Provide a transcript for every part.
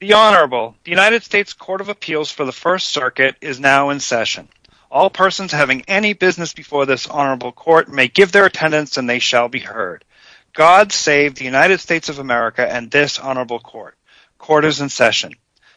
The Honorable, the United States Court of Appeals for the First Circuit is now in session. All persons having any business before this Honorable Court may give their attendance and they shall be heard. God save the United States of America and this Honorable Court. Court is in session.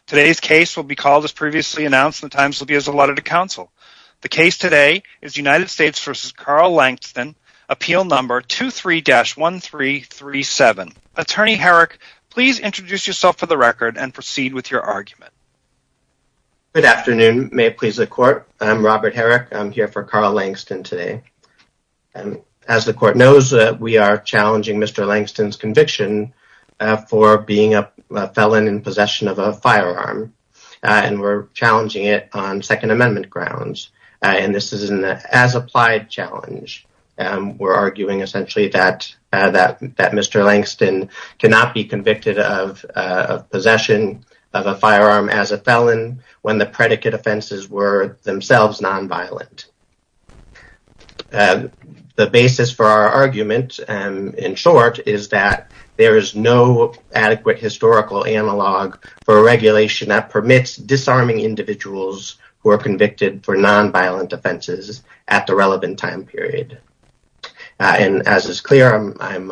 Today's case will be called as previously announced and the times will be as allotted to counsel. The case today is United States v. Carl Langston, Appeal Number 23-1337. Attorney Herrick, please introduce yourself for the record and proceed with your argument. Good afternoon. May it please the Court. I'm Robert Herrick. I'm here for Carl Langston today. As the Court knows, we are challenging Mr. Langston's conviction for being a felon in possession of a firearm. And we're challenging it on Second Amendment grounds. And this is an as-applied challenge. We're arguing essentially that Mr. Langston cannot be convicted of possession of a firearm as a felon when the predicate offenses were themselves nonviolent. The basis for our argument, in short, is that there is no adequate historical analog for regulation that permits disarming individuals who are convicted for nonviolent offenses at the relevant time period. And as is clear, I'm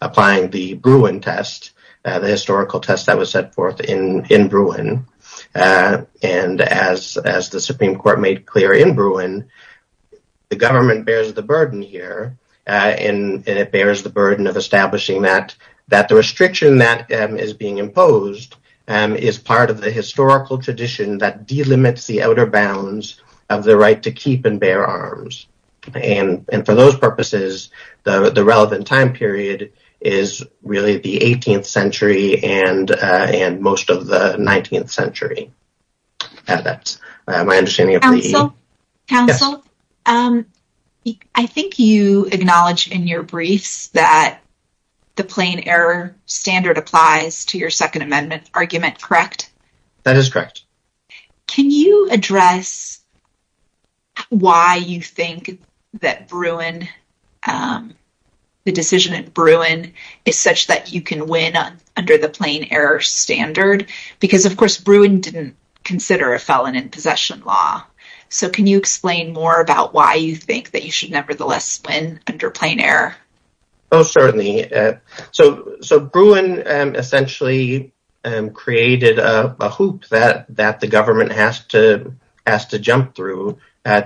applying the Bruin test, the historical test that was set forth in Bruin. And as the Supreme Court made clear in Bruin, the government bears the burden here. And it bears the burden of establishing that the restriction that is being imposed is part of the historical tradition that delimits the outer bounds of the right to keep and bear arms. And for those purposes, the relevant time period is really the 18th century and most of the 19th century. That's my understanding. Counsel, I think you acknowledge in your briefs that the plain error standard applies to your Second Amendment argument, correct? That is correct. Can you address why you think that Bruin, the decision in Bruin is such that you can win under the plain error standard? Because, of course, Bruin didn't consider a felon in possession law. So can you explain more about why you think that you should nevertheless win under plain error? Oh, certainly. So Bruin essentially created a hoop that the government has to jump through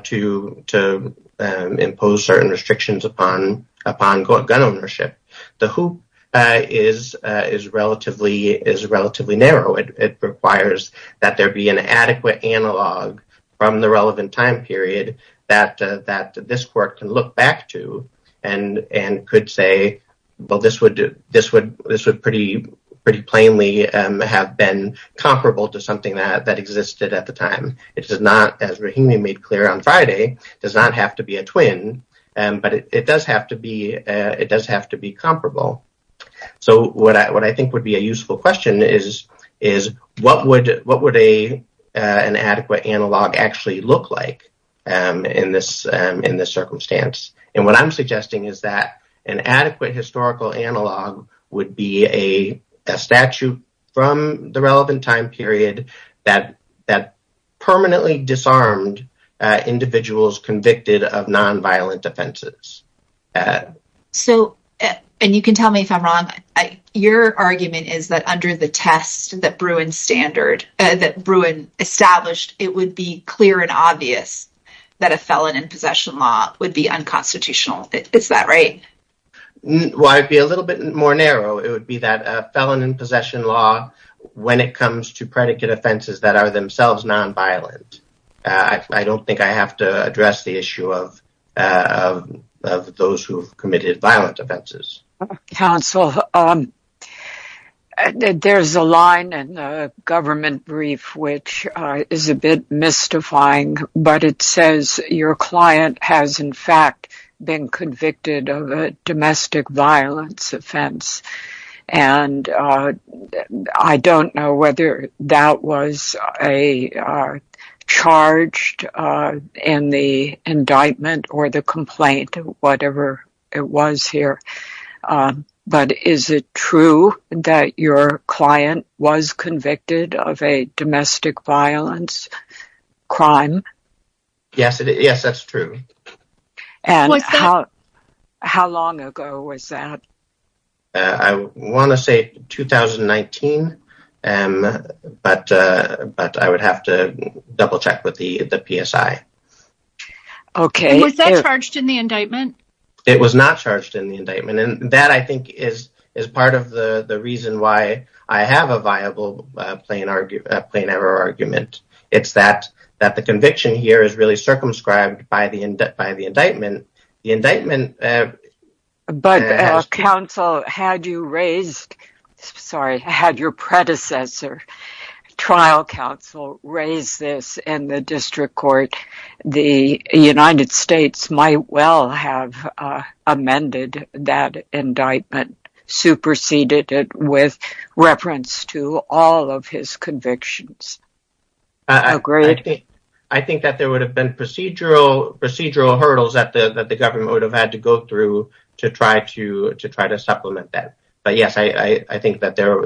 to impose certain restrictions upon gun ownership. The hoop is relatively narrow. It requires that there be an adequate analog from the relevant time period that this court can look back to and could say, well, this would pretty plainly have been comparable to something that existed at the time. It does not, as Rahimi made clear on Friday, does not have to be a twin. But it does have to be comparable. So what I think would be a useful question is what would an adequate analog actually look like in this circumstance? And what I'm suggesting is that an adequate historical analog would be a statute from the relevant time period that permanently disarmed individuals convicted of nonviolent offenses. And you can tell me if I'm wrong. Your argument is that under the test that Bruin established, it would be clear and obvious that a felon in possession law would be unconstitutional. Is that right? Well, I'd be a little bit more narrow. It would be that a felon in possession law, when it comes to predicate offenses that are themselves nonviolent. I don't think I have to address the issue of those who have committed violent offenses. Counsel, there's a line in the government brief which is a bit mystifying. But it says your client has, in fact, been convicted of a domestic violence offense. And I don't know whether that was charged in the indictment or the complaint or whatever it was here. But is it true that your client was convicted of a domestic violence crime? Yes, that's true. And how long ago was that? I want to say 2019. But I would have to double check with the PSI. Okay. Was that charged in the indictment? It was not charged in the indictment. And that, I think, is part of the reason why I have a viable plain error argument. It's that the conviction here is really circumscribed by the indictment. But, counsel, had your predecessor, trial counsel, raised this in the district court, the United States might well have amended that indictment, superseded it with reference to all of his convictions. Agreed? I think that there would have been procedural hurdles that the government would have had to go through to try to supplement that. But, yes, I think that there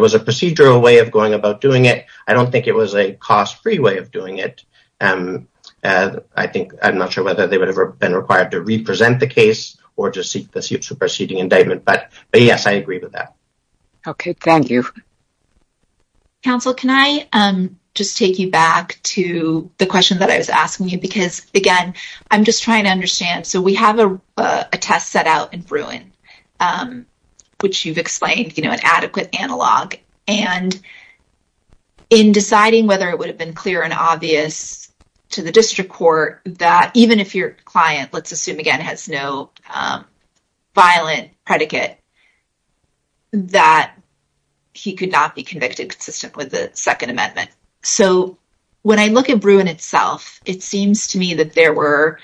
was a procedural way of going about doing it. I don't think it was a cost-free way of doing it. I'm not sure whether they would have been required to represent the case or to seek the superseding indictment. But, yes, I agree with that. Okay. Thank you. Counsel, can I just take you back to the question that I was asking you? Because, again, I'm just trying to understand. So, we have a test set out in Bruin, which you've explained, you know, an adequate analog. And in deciding whether it would have been clear and obvious to the district court that even if your client, let's assume, again, has no violent predicate, that he could not be convicted consistent with the Second Amendment. So, when I look at Bruin itself, it seems to me that there were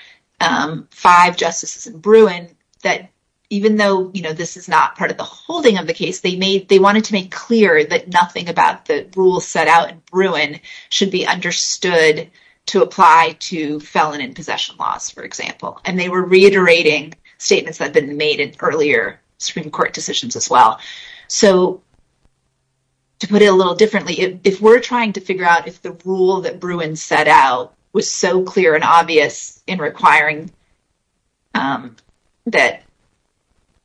five justices in Bruin that, even though, you know, this is not part of the holding of the case, they wanted to make clear that nothing about the rules set out in Bruin should be understood to apply to felon and possession laws, for example. And they were reiterating statements that had been made in earlier Supreme Court decisions as well. So, to put it a little differently, if we're trying to figure out if the rule that Bruin set out was so clear and obvious in requiring that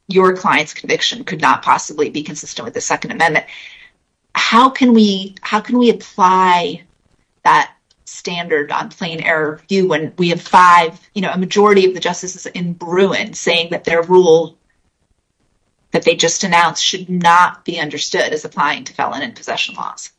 your client's conviction could not possibly be consistent with the Second Amendment, how can we apply that standard on plain error view when we have five, you know, a majority of the justices in Bruin saying that their rule that they just announced should be considered? That it should not be understood as applying to felon and possession laws?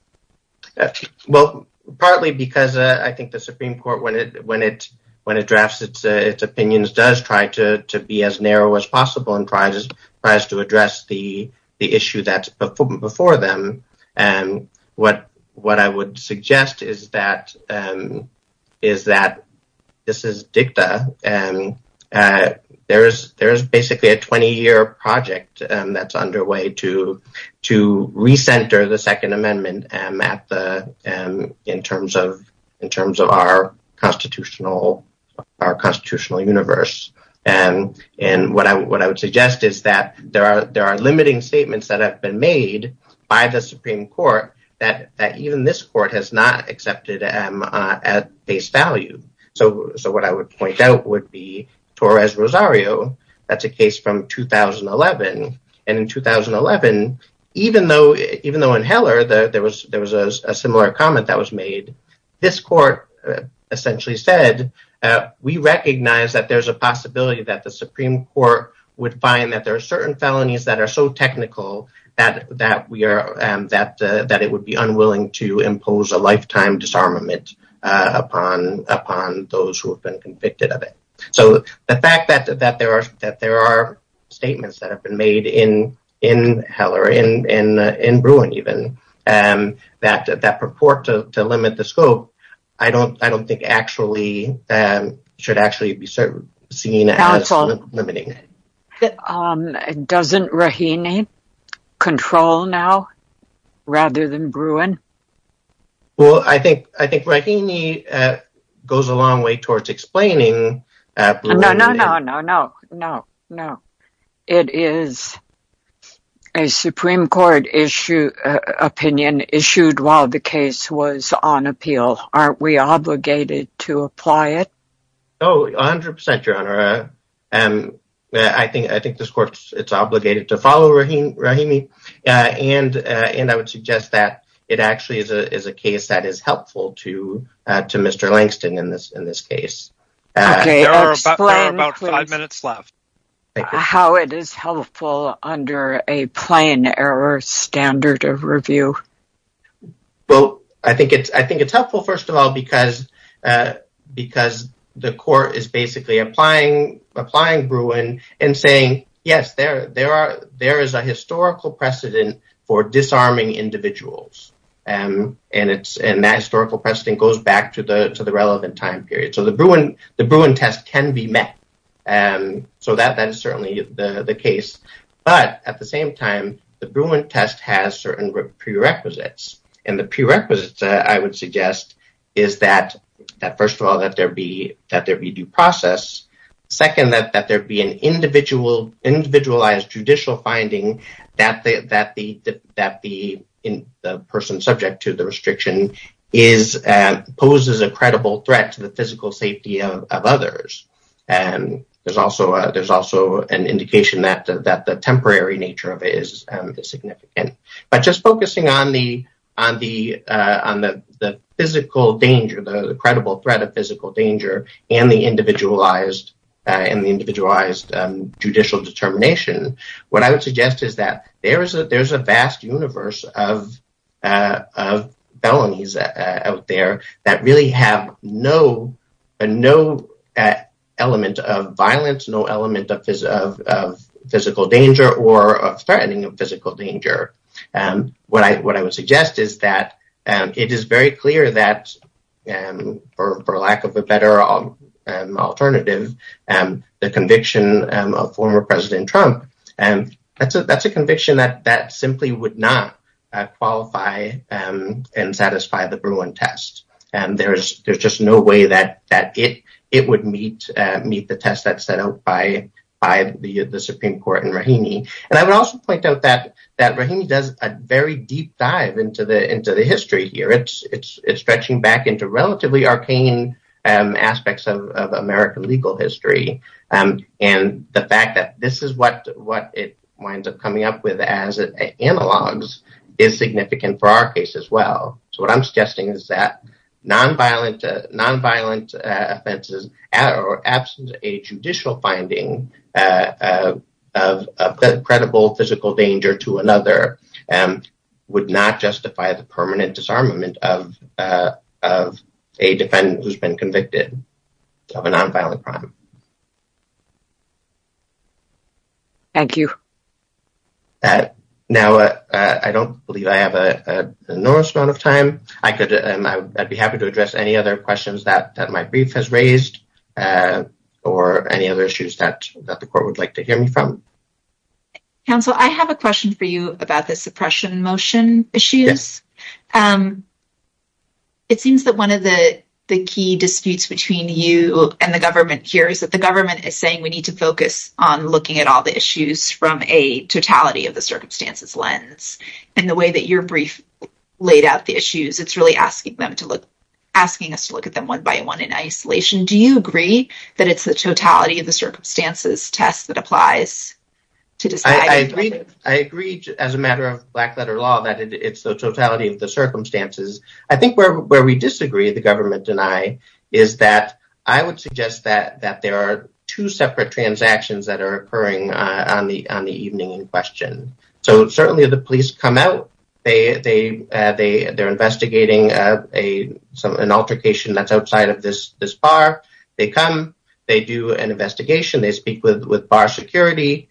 Well, partly because I think the Supreme Court, when it drafts its opinions, does try to be as narrow as possible and tries to address the issue that's before them. What I would suggest is that this is dicta. There is basically a 20-year project that's underway to recenter the Second Amendment in terms of our constitutional universe. And what I would suggest is that there are limiting statements that have been made by the Supreme Court that even this court has not accepted at face value. So, what I would point out would be Torres-Rosario, that's a case from 2011. And in 2011, even though in Heller there was a similar comment that was made, this court essentially said, we recognize that there's a possibility that the Supreme Court would find that there are certain felonies that are so technical that it would be unwilling to impose a lifetime disarmament upon those who have been convicted of it. So, the fact that there are statements that have been made in Heller, in Bruin even, that purport to limit the scope, I don't think actually should be seen as limiting. Doesn't Raheny control now, rather than Bruin? Well, I think Raheny goes a long way towards explaining Bruin. No, no, no, no, no, no. It is a Supreme Court opinion issued while the case was on appeal. Aren't we obligated to apply it? Oh, 100%, Your Honor. I think this court is obligated to follow Raheny, and I would suggest that it actually is a case that is helpful to Mr. Langston in this case. Okay, explain how it is helpful under a plain error standard of review. Well, I think it's helpful, first of all, because the court is basically applying Bruin and saying, yes, there is a historical precedent for disarming individuals, and that historical precedent goes back to the relevant time period. So, the Bruin test can be met, so that is certainly the case, but at the same time, the Bruin test has certain prerequisites, and the prerequisites, I would suggest, is that, first of all, that there be due process. Second, that there be an individualized judicial finding that the person subject to the restriction poses a credible threat to the physical safety of others. There's also an indication that the temporary nature of it is significant. But just focusing on the physical danger, the credible threat of physical danger, and the individualized judicial determination, what I would suggest is that there's a vast universe of felonies out there that really have no element of violence, no element of physical danger or threatening of physical danger. What I would suggest is that it is very clear that, for lack of a better alternative, the conviction of former President Trump, that's a conviction that simply would not qualify and satisfy the Bruin test. There's just no way that it would meet the test that's set out by the Supreme Court in Rahimi. And I would also point out that Rahimi does a very deep dive into the history here. It's stretching back into relatively arcane aspects of American legal history. And the fact that this is what it winds up coming up with as analogs is significant for our case as well. So what I'm suggesting is that nonviolent offenses, absent a judicial finding of a credible physical danger to another, would not justify the permanent disarmament of a defendant who's been convicted of a nonviolent crime. Thank you. Now, I don't believe I have an enormous amount of time. I'd be happy to address any other questions that my brief has raised, or any other issues that the court would like to hear me from. Counsel, I have a question for you about the suppression motion issues. It seems that one of the key disputes between you and the government here is that the government is saying we need to focus on looking at all the issues from a totality of the circumstances lens. And the way that your brief laid out the issues, it's really asking us to look at them one by one in isolation. Do you agree that it's the totality of the circumstances test that applies? I agree as a matter of black letter law that it's the totality of the circumstances. I think where we disagree, the government and I, is that I would suggest that there are two separate transactions that are occurring on the evening in question. So certainly the police come out, they're investigating an altercation that's outside of this bar, they come, they do an investigation, they speak with bar security,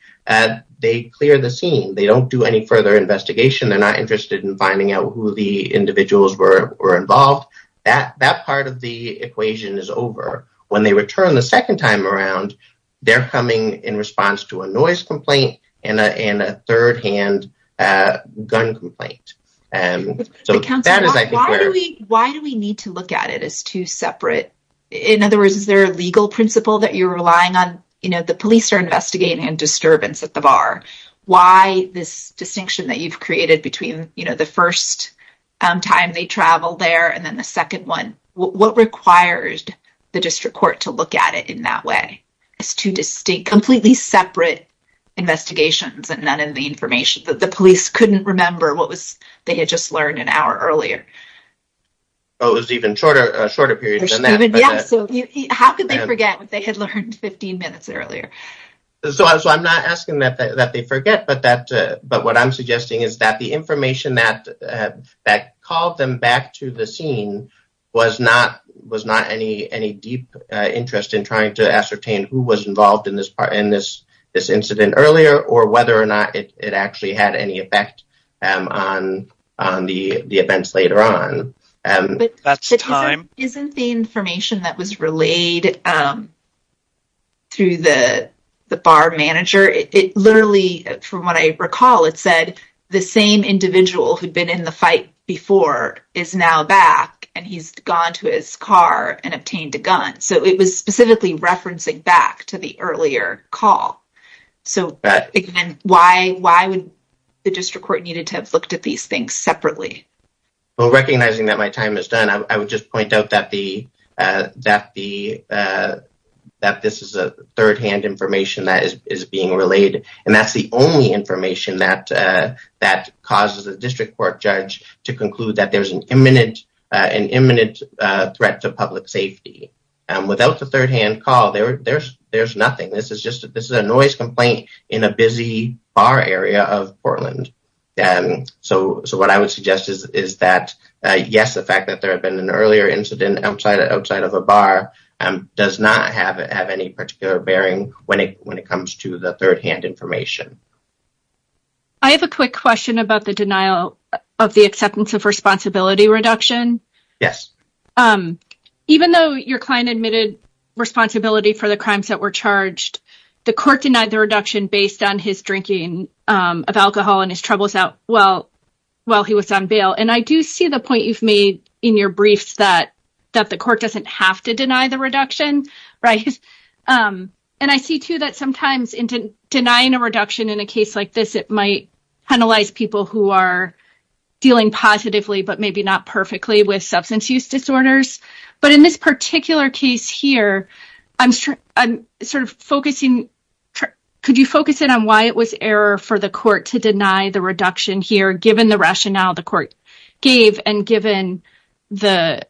they clear the scene. They don't do any further investigation, they're not interested in finding out who the individuals were involved. That part of the equation is over. When they return the second time around, they're coming in response to a noise complaint and a third hand gun complaint. Why do we need to look at it as two separate, in other words, is there a legal principle that you're relying on? The police are investigating a disturbance at the bar. Why this distinction that you've created between, you know, the first time they traveled there and then the second one, what requires the district court to look at it in that way? It's two distinct, completely separate investigations and none of the information that the police couldn't remember what was, they had just learned an hour earlier. Oh, it was even shorter, a shorter period than that. How could they forget what they had learned 15 minutes earlier? So I'm not asking that they forget, but what I'm suggesting is that the information that called them back to the scene was not any deep interest in trying to ascertain who was involved in this incident earlier or whether or not it actually had any effect on the events later on. Isn't the information that was relayed through the bar manager, it literally, from what I recall, it said the same individual who'd been in the fight before is now back and he's gone to his car and obtained a gun. So it was specifically referencing back to the earlier call. So why would the district court needed to have looked at these things separately? Well, recognizing that my time is done, I would just point out that this is a third-hand information that is being relayed. And that's the only information that causes a district court judge to conclude that there's an imminent threat to public safety. Without the third-hand call, there's nothing. This is a noise complaint in a busy bar area of Portland. So what I would suggest is that, yes, the fact that there had been an earlier incident outside of a bar does not have any particular bearing when it comes to the third-hand information. I have a quick question about the denial of the acceptance of responsibility reduction. Yes. Even though your client admitted responsibility for the crimes that were charged, the court denied the reduction based on his drinking of alcohol and his troubles out while he was on bail. And I do see the point you've made in your briefs that the court doesn't have to deny the reduction. And I see, too, that sometimes denying a reduction in a case like this, it might penalize people who are dealing positively but maybe not perfectly with substance use disorders. But in this particular case here, could you focus in on why it was error for the court to deny the reduction here, given the rationale the court gave and given the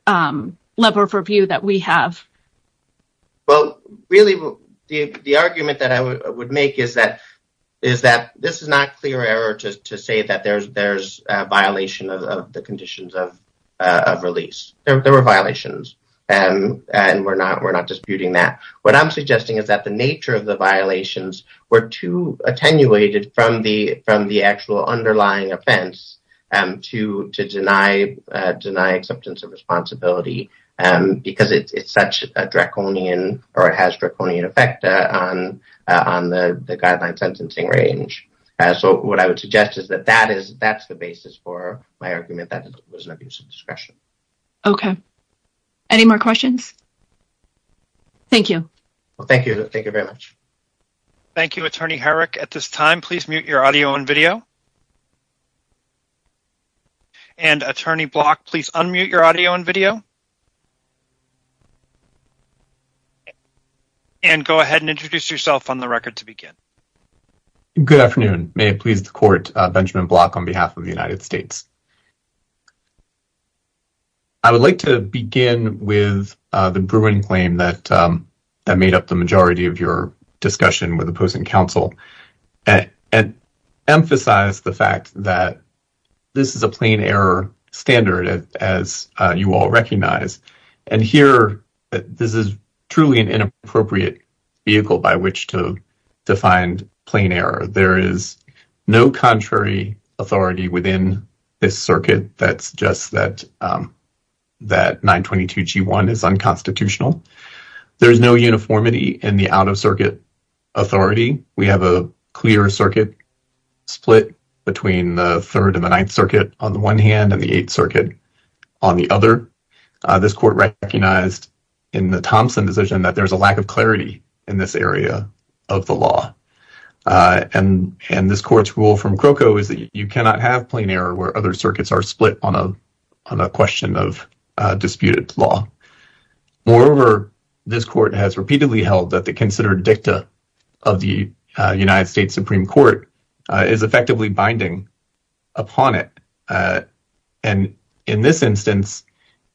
level of review that we have? Well, really, the argument that I would make is that this is not clear error to say that there's a violation of the conditions of release. There were violations, and we're not disputing that. What I'm suggesting is that the nature of the violations were too attenuated from the actual underlying offense to deny acceptance of responsibility because it's such a draconian or it has draconian effect on the guideline sentencing range. So what I would suggest is that that's the basis for my argument that it was an abuse of discretion. Okay. Any more questions? Thank you. Thank you. Thank you very much. Thank you, Attorney Herrick. At this time, please mute your audio and video. And Attorney Block, please unmute your audio and video. And go ahead and introduce yourself on the record to begin. Good afternoon. May it please the court, Benjamin Block on behalf of the United States. I would like to begin with the brewing claim that made up the majority of your discussion with opposing counsel and emphasize the fact that this is a plain error standard, as you all recognize. And here, this is truly an inappropriate vehicle by which to find plain error. There is no contrary authority within this circuit that suggests that 922G1 is unconstitutional. There is no uniformity in the out-of-circuit authority. We have a clear circuit split between the Third and the Ninth Circuit on the one hand and the Eighth Circuit on the other. This court recognized in the Thompson decision that there's a lack of clarity in this area of the law. And this court's rule from Croco is that you cannot have plain error where other circuits are split on a question of disputed law. Moreover, this court has repeatedly held that the considered dicta of the United States Supreme Court is effectively binding upon it. And in this instance,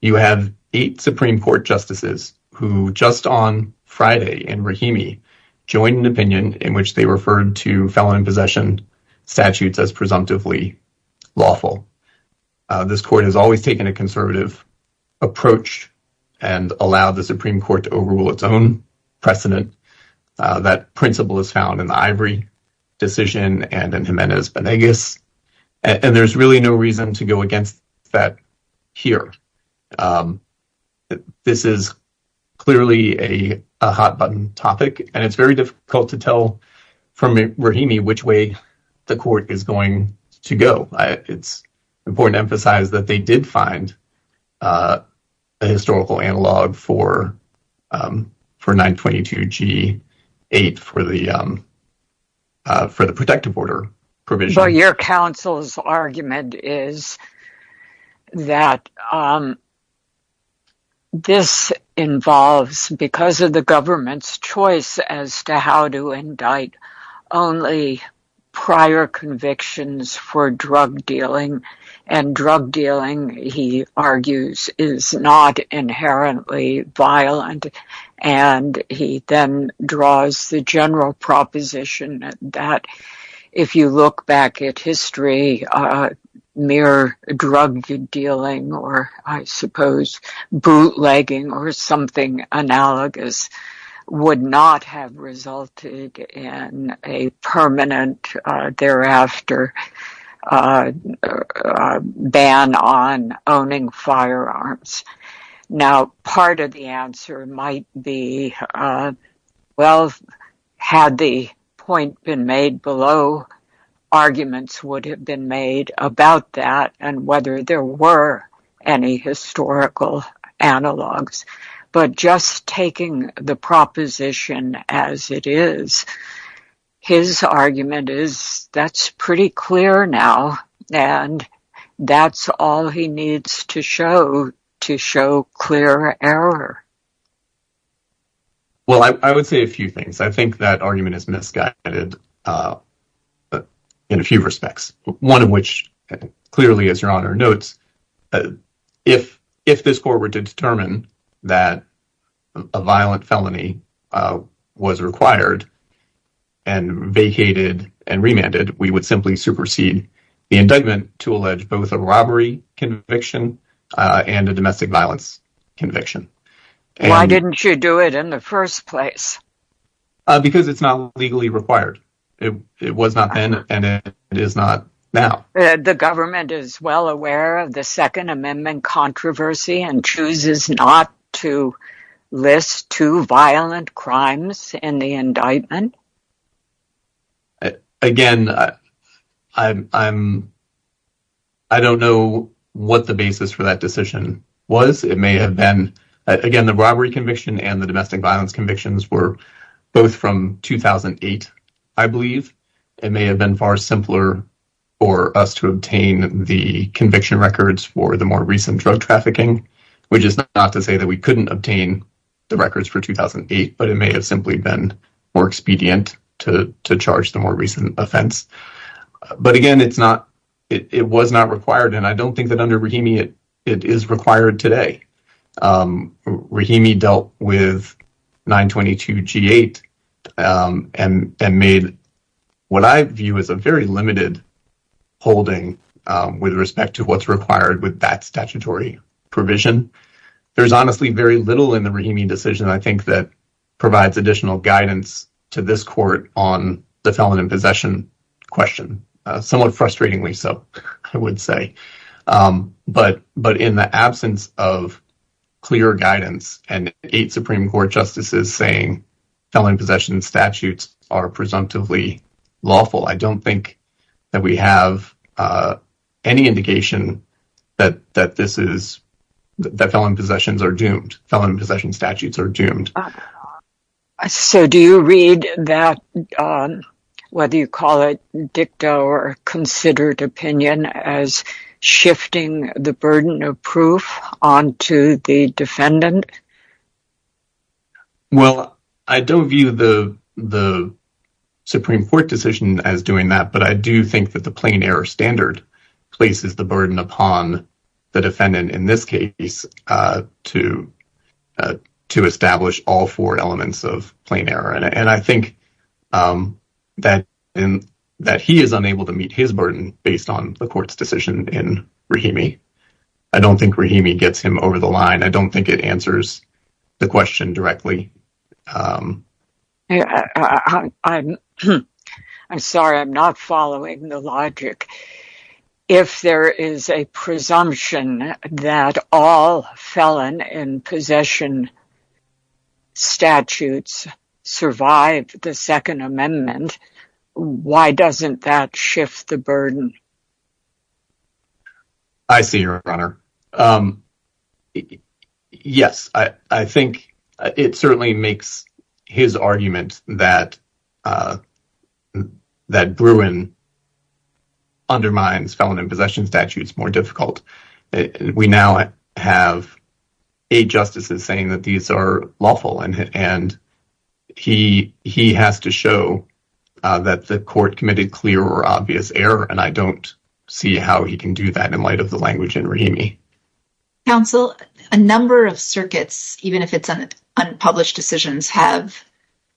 you have eight Supreme Court justices who just on Friday in Rahimi joined an opinion in which they referred to felon in possession statutes as presumptively lawful. This court has always taken a conservative approach and allowed the Supreme Court to overrule its own precedent. That principle is found in the Ivory decision and in Jimenez-Benegas, and there's really no reason to go against that here. This is clearly a hot-button topic, and it's very difficult to tell from Rahimi which way the court is going to go. It's important to emphasize that they did find a historical analog for 922G8 for the protective order provision. Your counsel's argument is that this involves, because of the government's choice as to how to indict, only prior convictions for drug dealing. Drug dealing, he argues, is not inherently violent, and he then draws the general proposition that if you look back at history, mere drug dealing or, I suppose, bootlegging or something analogous would not have resulted in a permanent, thereafter, ban on owning firearms. Now, part of the answer might be, well, had the point been made below, arguments would have been made about that and whether there were any historical analogs. But just taking the proposition as it is, his argument is that's pretty clear now, and that's all he needs to show to show clear error. Well, I would say a few things. I think that argument is misguided in a few respects, one of which clearly, as Your Honor notes, if this court were to determine that a violent felony was required and vacated and remanded, we would simply supersede the indictment to allege both a robbery conviction and a domestic violence conviction. Why didn't you do it in the first place? Because it's not legally required. It was not then, and it is not now. The government is well aware of the Second Amendment controversy and chooses not to list two violent crimes in the indictment? Again, I don't know what the basis for that decision was. It may have been, again, the robbery conviction and the domestic violence convictions were both from 2008, I believe. It may have been far simpler for us to obtain the conviction records for the more recent drug trafficking, which is not to say that we couldn't obtain the records for 2008, but it may have simply been more expedient to charge the more recent offense. But again, it was not required, and I don't think that under Rahimi it is required today. Rahimi dealt with 922 G-8 and made what I view as a very limited holding with respect to what's required with that statutory provision. There's honestly very little in the Rahimi decision, I think, that provides additional guidance to this court on the felon in possession question. Somewhat frustratingly so, I would say. But in the absence of clear guidance and eight Supreme Court justices saying felon in possession statutes are presumptively lawful, I don't think that we have any indication that felon in possession statutes are doomed. So do you read that, whether you call it dicta or considered opinion, as shifting the burden of proof onto the defendant? Well, I don't view the Supreme Court decision as doing that, but I do think that the plain error standard places the burden upon the defendant in this case to establish all four elements of plain error. And I think that he is unable to meet his burden based on the court's decision in Rahimi. I don't think Rahimi gets him over the line. I don't think it answers the question directly. I'm sorry, I'm not following the logic. If there is a presumption that all felon in possession statutes survive the Second Amendment, why doesn't that shift the burden? I see you, Your Honor. Yes, I think it certainly makes his argument that Bruin undermines felon in possession statutes more difficult. We now have eight justices saying that these are lawful, and he has to show that the court committed clear or obvious error. And I don't see how he can do that in light of the language in Rahimi. Counsel, a number of circuits, even if it's unpublished decisions, have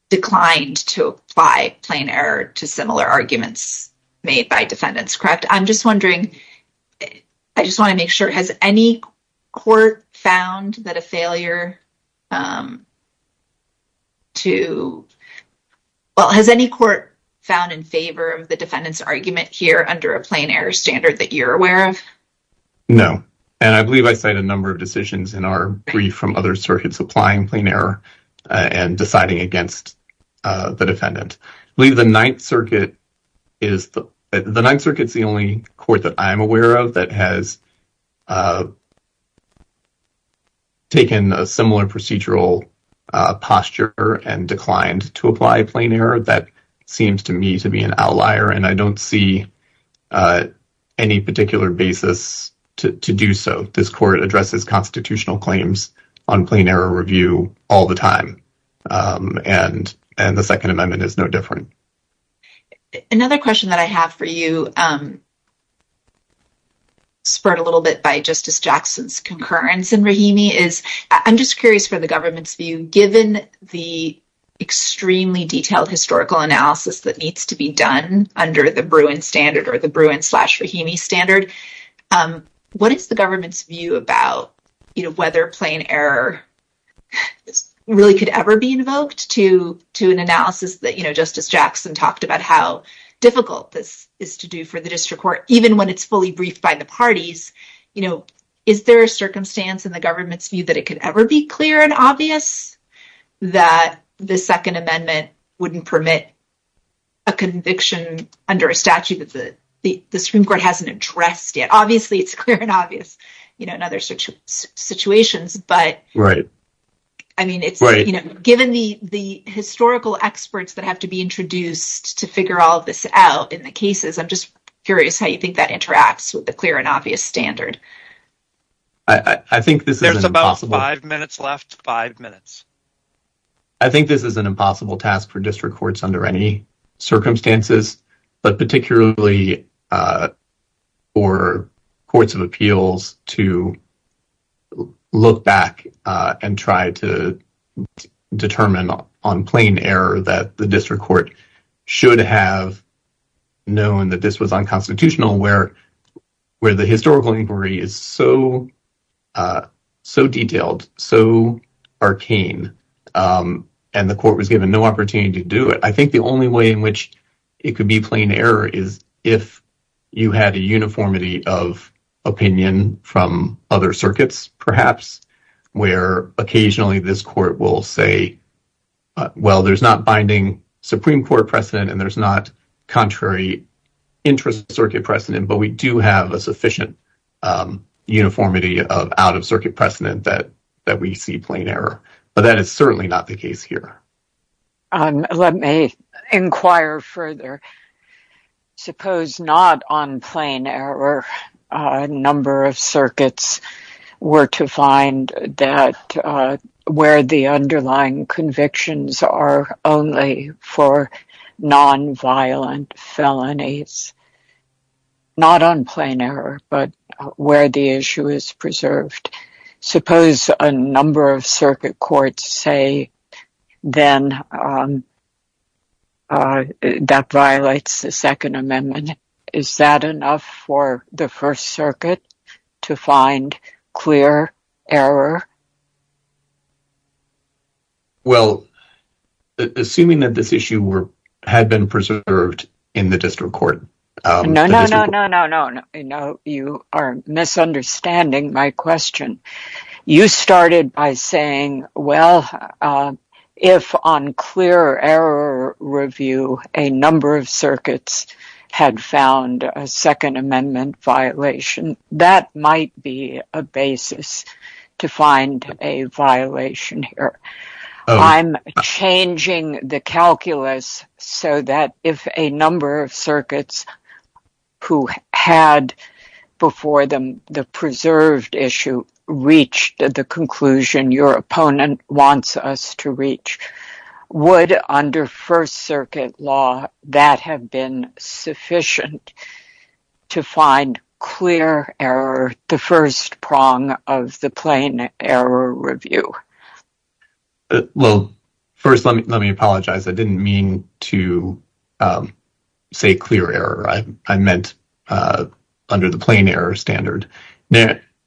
declined to apply plain error to similar arguments made by defendants, correct? And I'm just wondering, I just want to make sure, has any court found that a failure to, well, has any court found in favor of the defendant's argument here under a plain error standard that you're aware of? No, and I believe I cite a number of decisions in our brief from other circuits applying plain error and deciding against the defendant. I believe the Ninth Circuit is the only court that I'm aware of that has taken a similar procedural posture and declined to apply plain error. That seems to me to be an outlier, and I don't see any particular basis to do so. This court addresses constitutional claims on plain error review all the time, and the Second Amendment is no different. Another question that I have for you, spurred a little bit by Justice Jackson's concurrence in Rahimi, is I'm just curious for the government's view. Given the extremely detailed historical analysis that needs to be done under the Bruin standard or the Bruin-Rahimi standard, what is the government's view about whether plain error really could ever be invoked to an analysis that, you know, Justice Jackson talked about how difficult this is to do for the district court, even when it's fully briefed by the parties? You know, is there a circumstance in the government's view that it could ever be clear and obvious that the Second Amendment wouldn't permit a conviction under a statute that the Supreme Court hasn't addressed yet? Obviously, it's clear and obvious in other situations, but given the historical experts that have to be introduced to figure all of this out in the cases, I'm just curious how you think that interacts with the clear and obvious standard. There's about five minutes left. Five minutes. I think this is an impossible task for district courts under any circumstances, but particularly for courts of appeals to look back and try to determine on plain error that the district court should have known that this was unconstitutional, where the historical inquiry is so detailed, so arcane. And the court was given no opportunity to do it. I think the only way in which it could be plain error is if you had a uniformity of opinion from other circuits, perhaps, where occasionally this court will say, well, there's not binding Supreme Court precedent and there's not contrary interest circuit precedent, but we do have a sufficient uniformity of out-of-circuit precedent that we see plain error. But that is certainly not the case here. Let me inquire further. Suppose not on plain error a number of circuits were to find that where the underlying convictions are only for nonviolent felonies. Not on plain error, but where the issue is preserved. Suppose a number of circuit courts say then that violates the Second Amendment. Is that enough for the First Circuit to find clear error? Well, assuming that this issue had been preserved in the district court. No, no, no, no, no, no. You are misunderstanding my question. You started by saying, well, if on clear error review, a number of circuits had found a Second Amendment violation, that might be a basis to find a violation here. I'm changing the calculus so that if a number of circuits who had before them the preserved issue reached the conclusion your opponent wants us to reach, would under First Circuit law that have been sufficient to find clear error, the first prong of the plain error review. Well, first let me apologize. I didn't mean to say clear error. I meant under the plain error standard.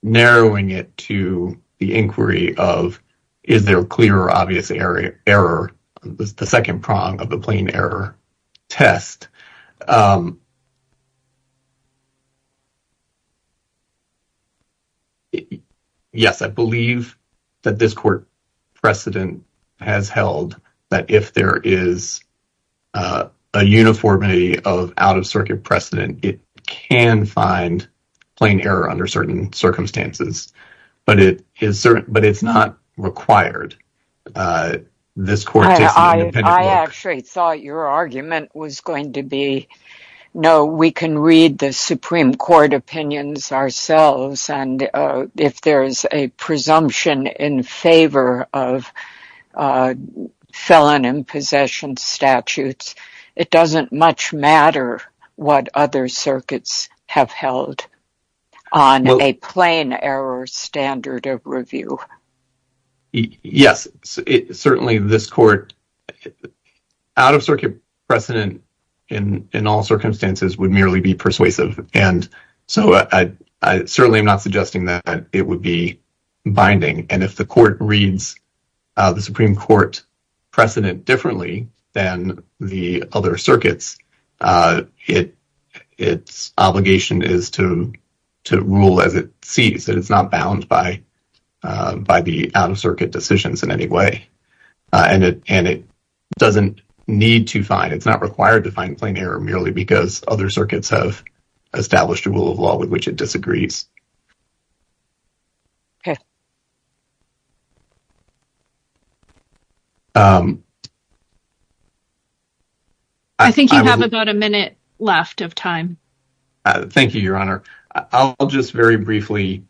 Narrowing it to the inquiry of is there clear or obvious error, the second prong of the plain error test. Yes, I believe that this court precedent has held that if there is a uniformity of out-of-circuit precedent, it can find plain error under certain circumstances, but it's not required. I actually thought your argument was going to be, no, we can read the Supreme Court opinions ourselves, and if there is a presumption in favor of felon and possession statutes, it doesn't much matter what other circuits have held on a plain error standard of review. Yes, certainly this court, out-of-circuit precedent in all circumstances would merely be persuasive, and so I certainly am not suggesting that it would be binding. And if the court reads the Supreme Court precedent differently than the other circuits, its obligation is to rule as it sees, that it's not bound by the out-of-circuit decisions in any way. And it doesn't need to find, it's not required to find plain error merely because other circuits have established a rule of law with which it disagrees. Okay. I think you have about a minute left of time. Thank you, Your Honor. I'll just very briefly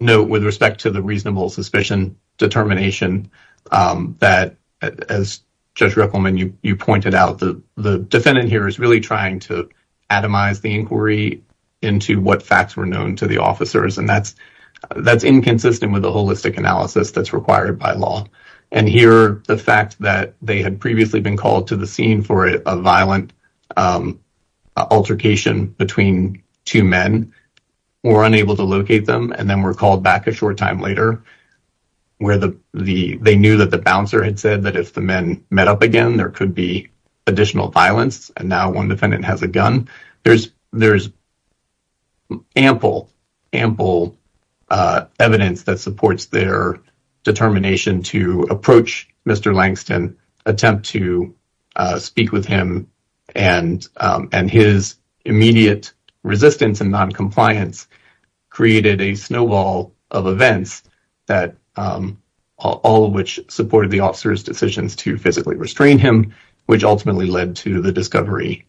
note with respect to the reasonable suspicion determination that, as Judge Rickleman, you pointed out, the defendant here is really trying to atomize the inquiry into what facts were known to the officers, and that's inconsistent with the holistic analysis that's required by law. And here, the fact that they had previously been called to the scene for a violent altercation between two men, were unable to locate them, and then were called back a short time later where they knew that the bouncer had said that if the men met up again, there could be additional violence, and now one defendant has a gun. There's ample, ample evidence that supports their determination to approach Mr. Langston, attempt to speak with him, and his immediate resistance and noncompliance created a snowball of events, all of which supported the officer's decisions to physically restrain him, which ultimately led to the discovery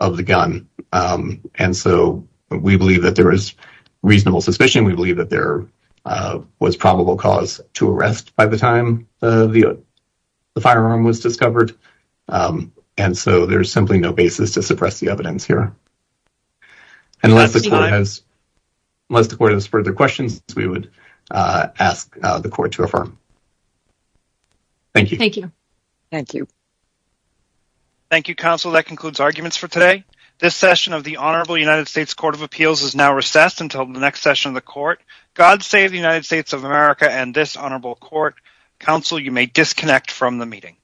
of the gun. And so, we believe that there is reasonable suspicion. We believe that there was probable cause to arrest by the time the firearm was discovered. And so, there's simply no basis to suppress the evidence here. Unless the court has further questions, we would ask the court to affirm. Thank you. Thank you. Thank you, counsel. That concludes arguments for today. This session of the Honorable United States Court of Appeals is now recessed until the next session of the court. God save the United States of America and this honorable court. Counsel, you may disconnect from the meeting.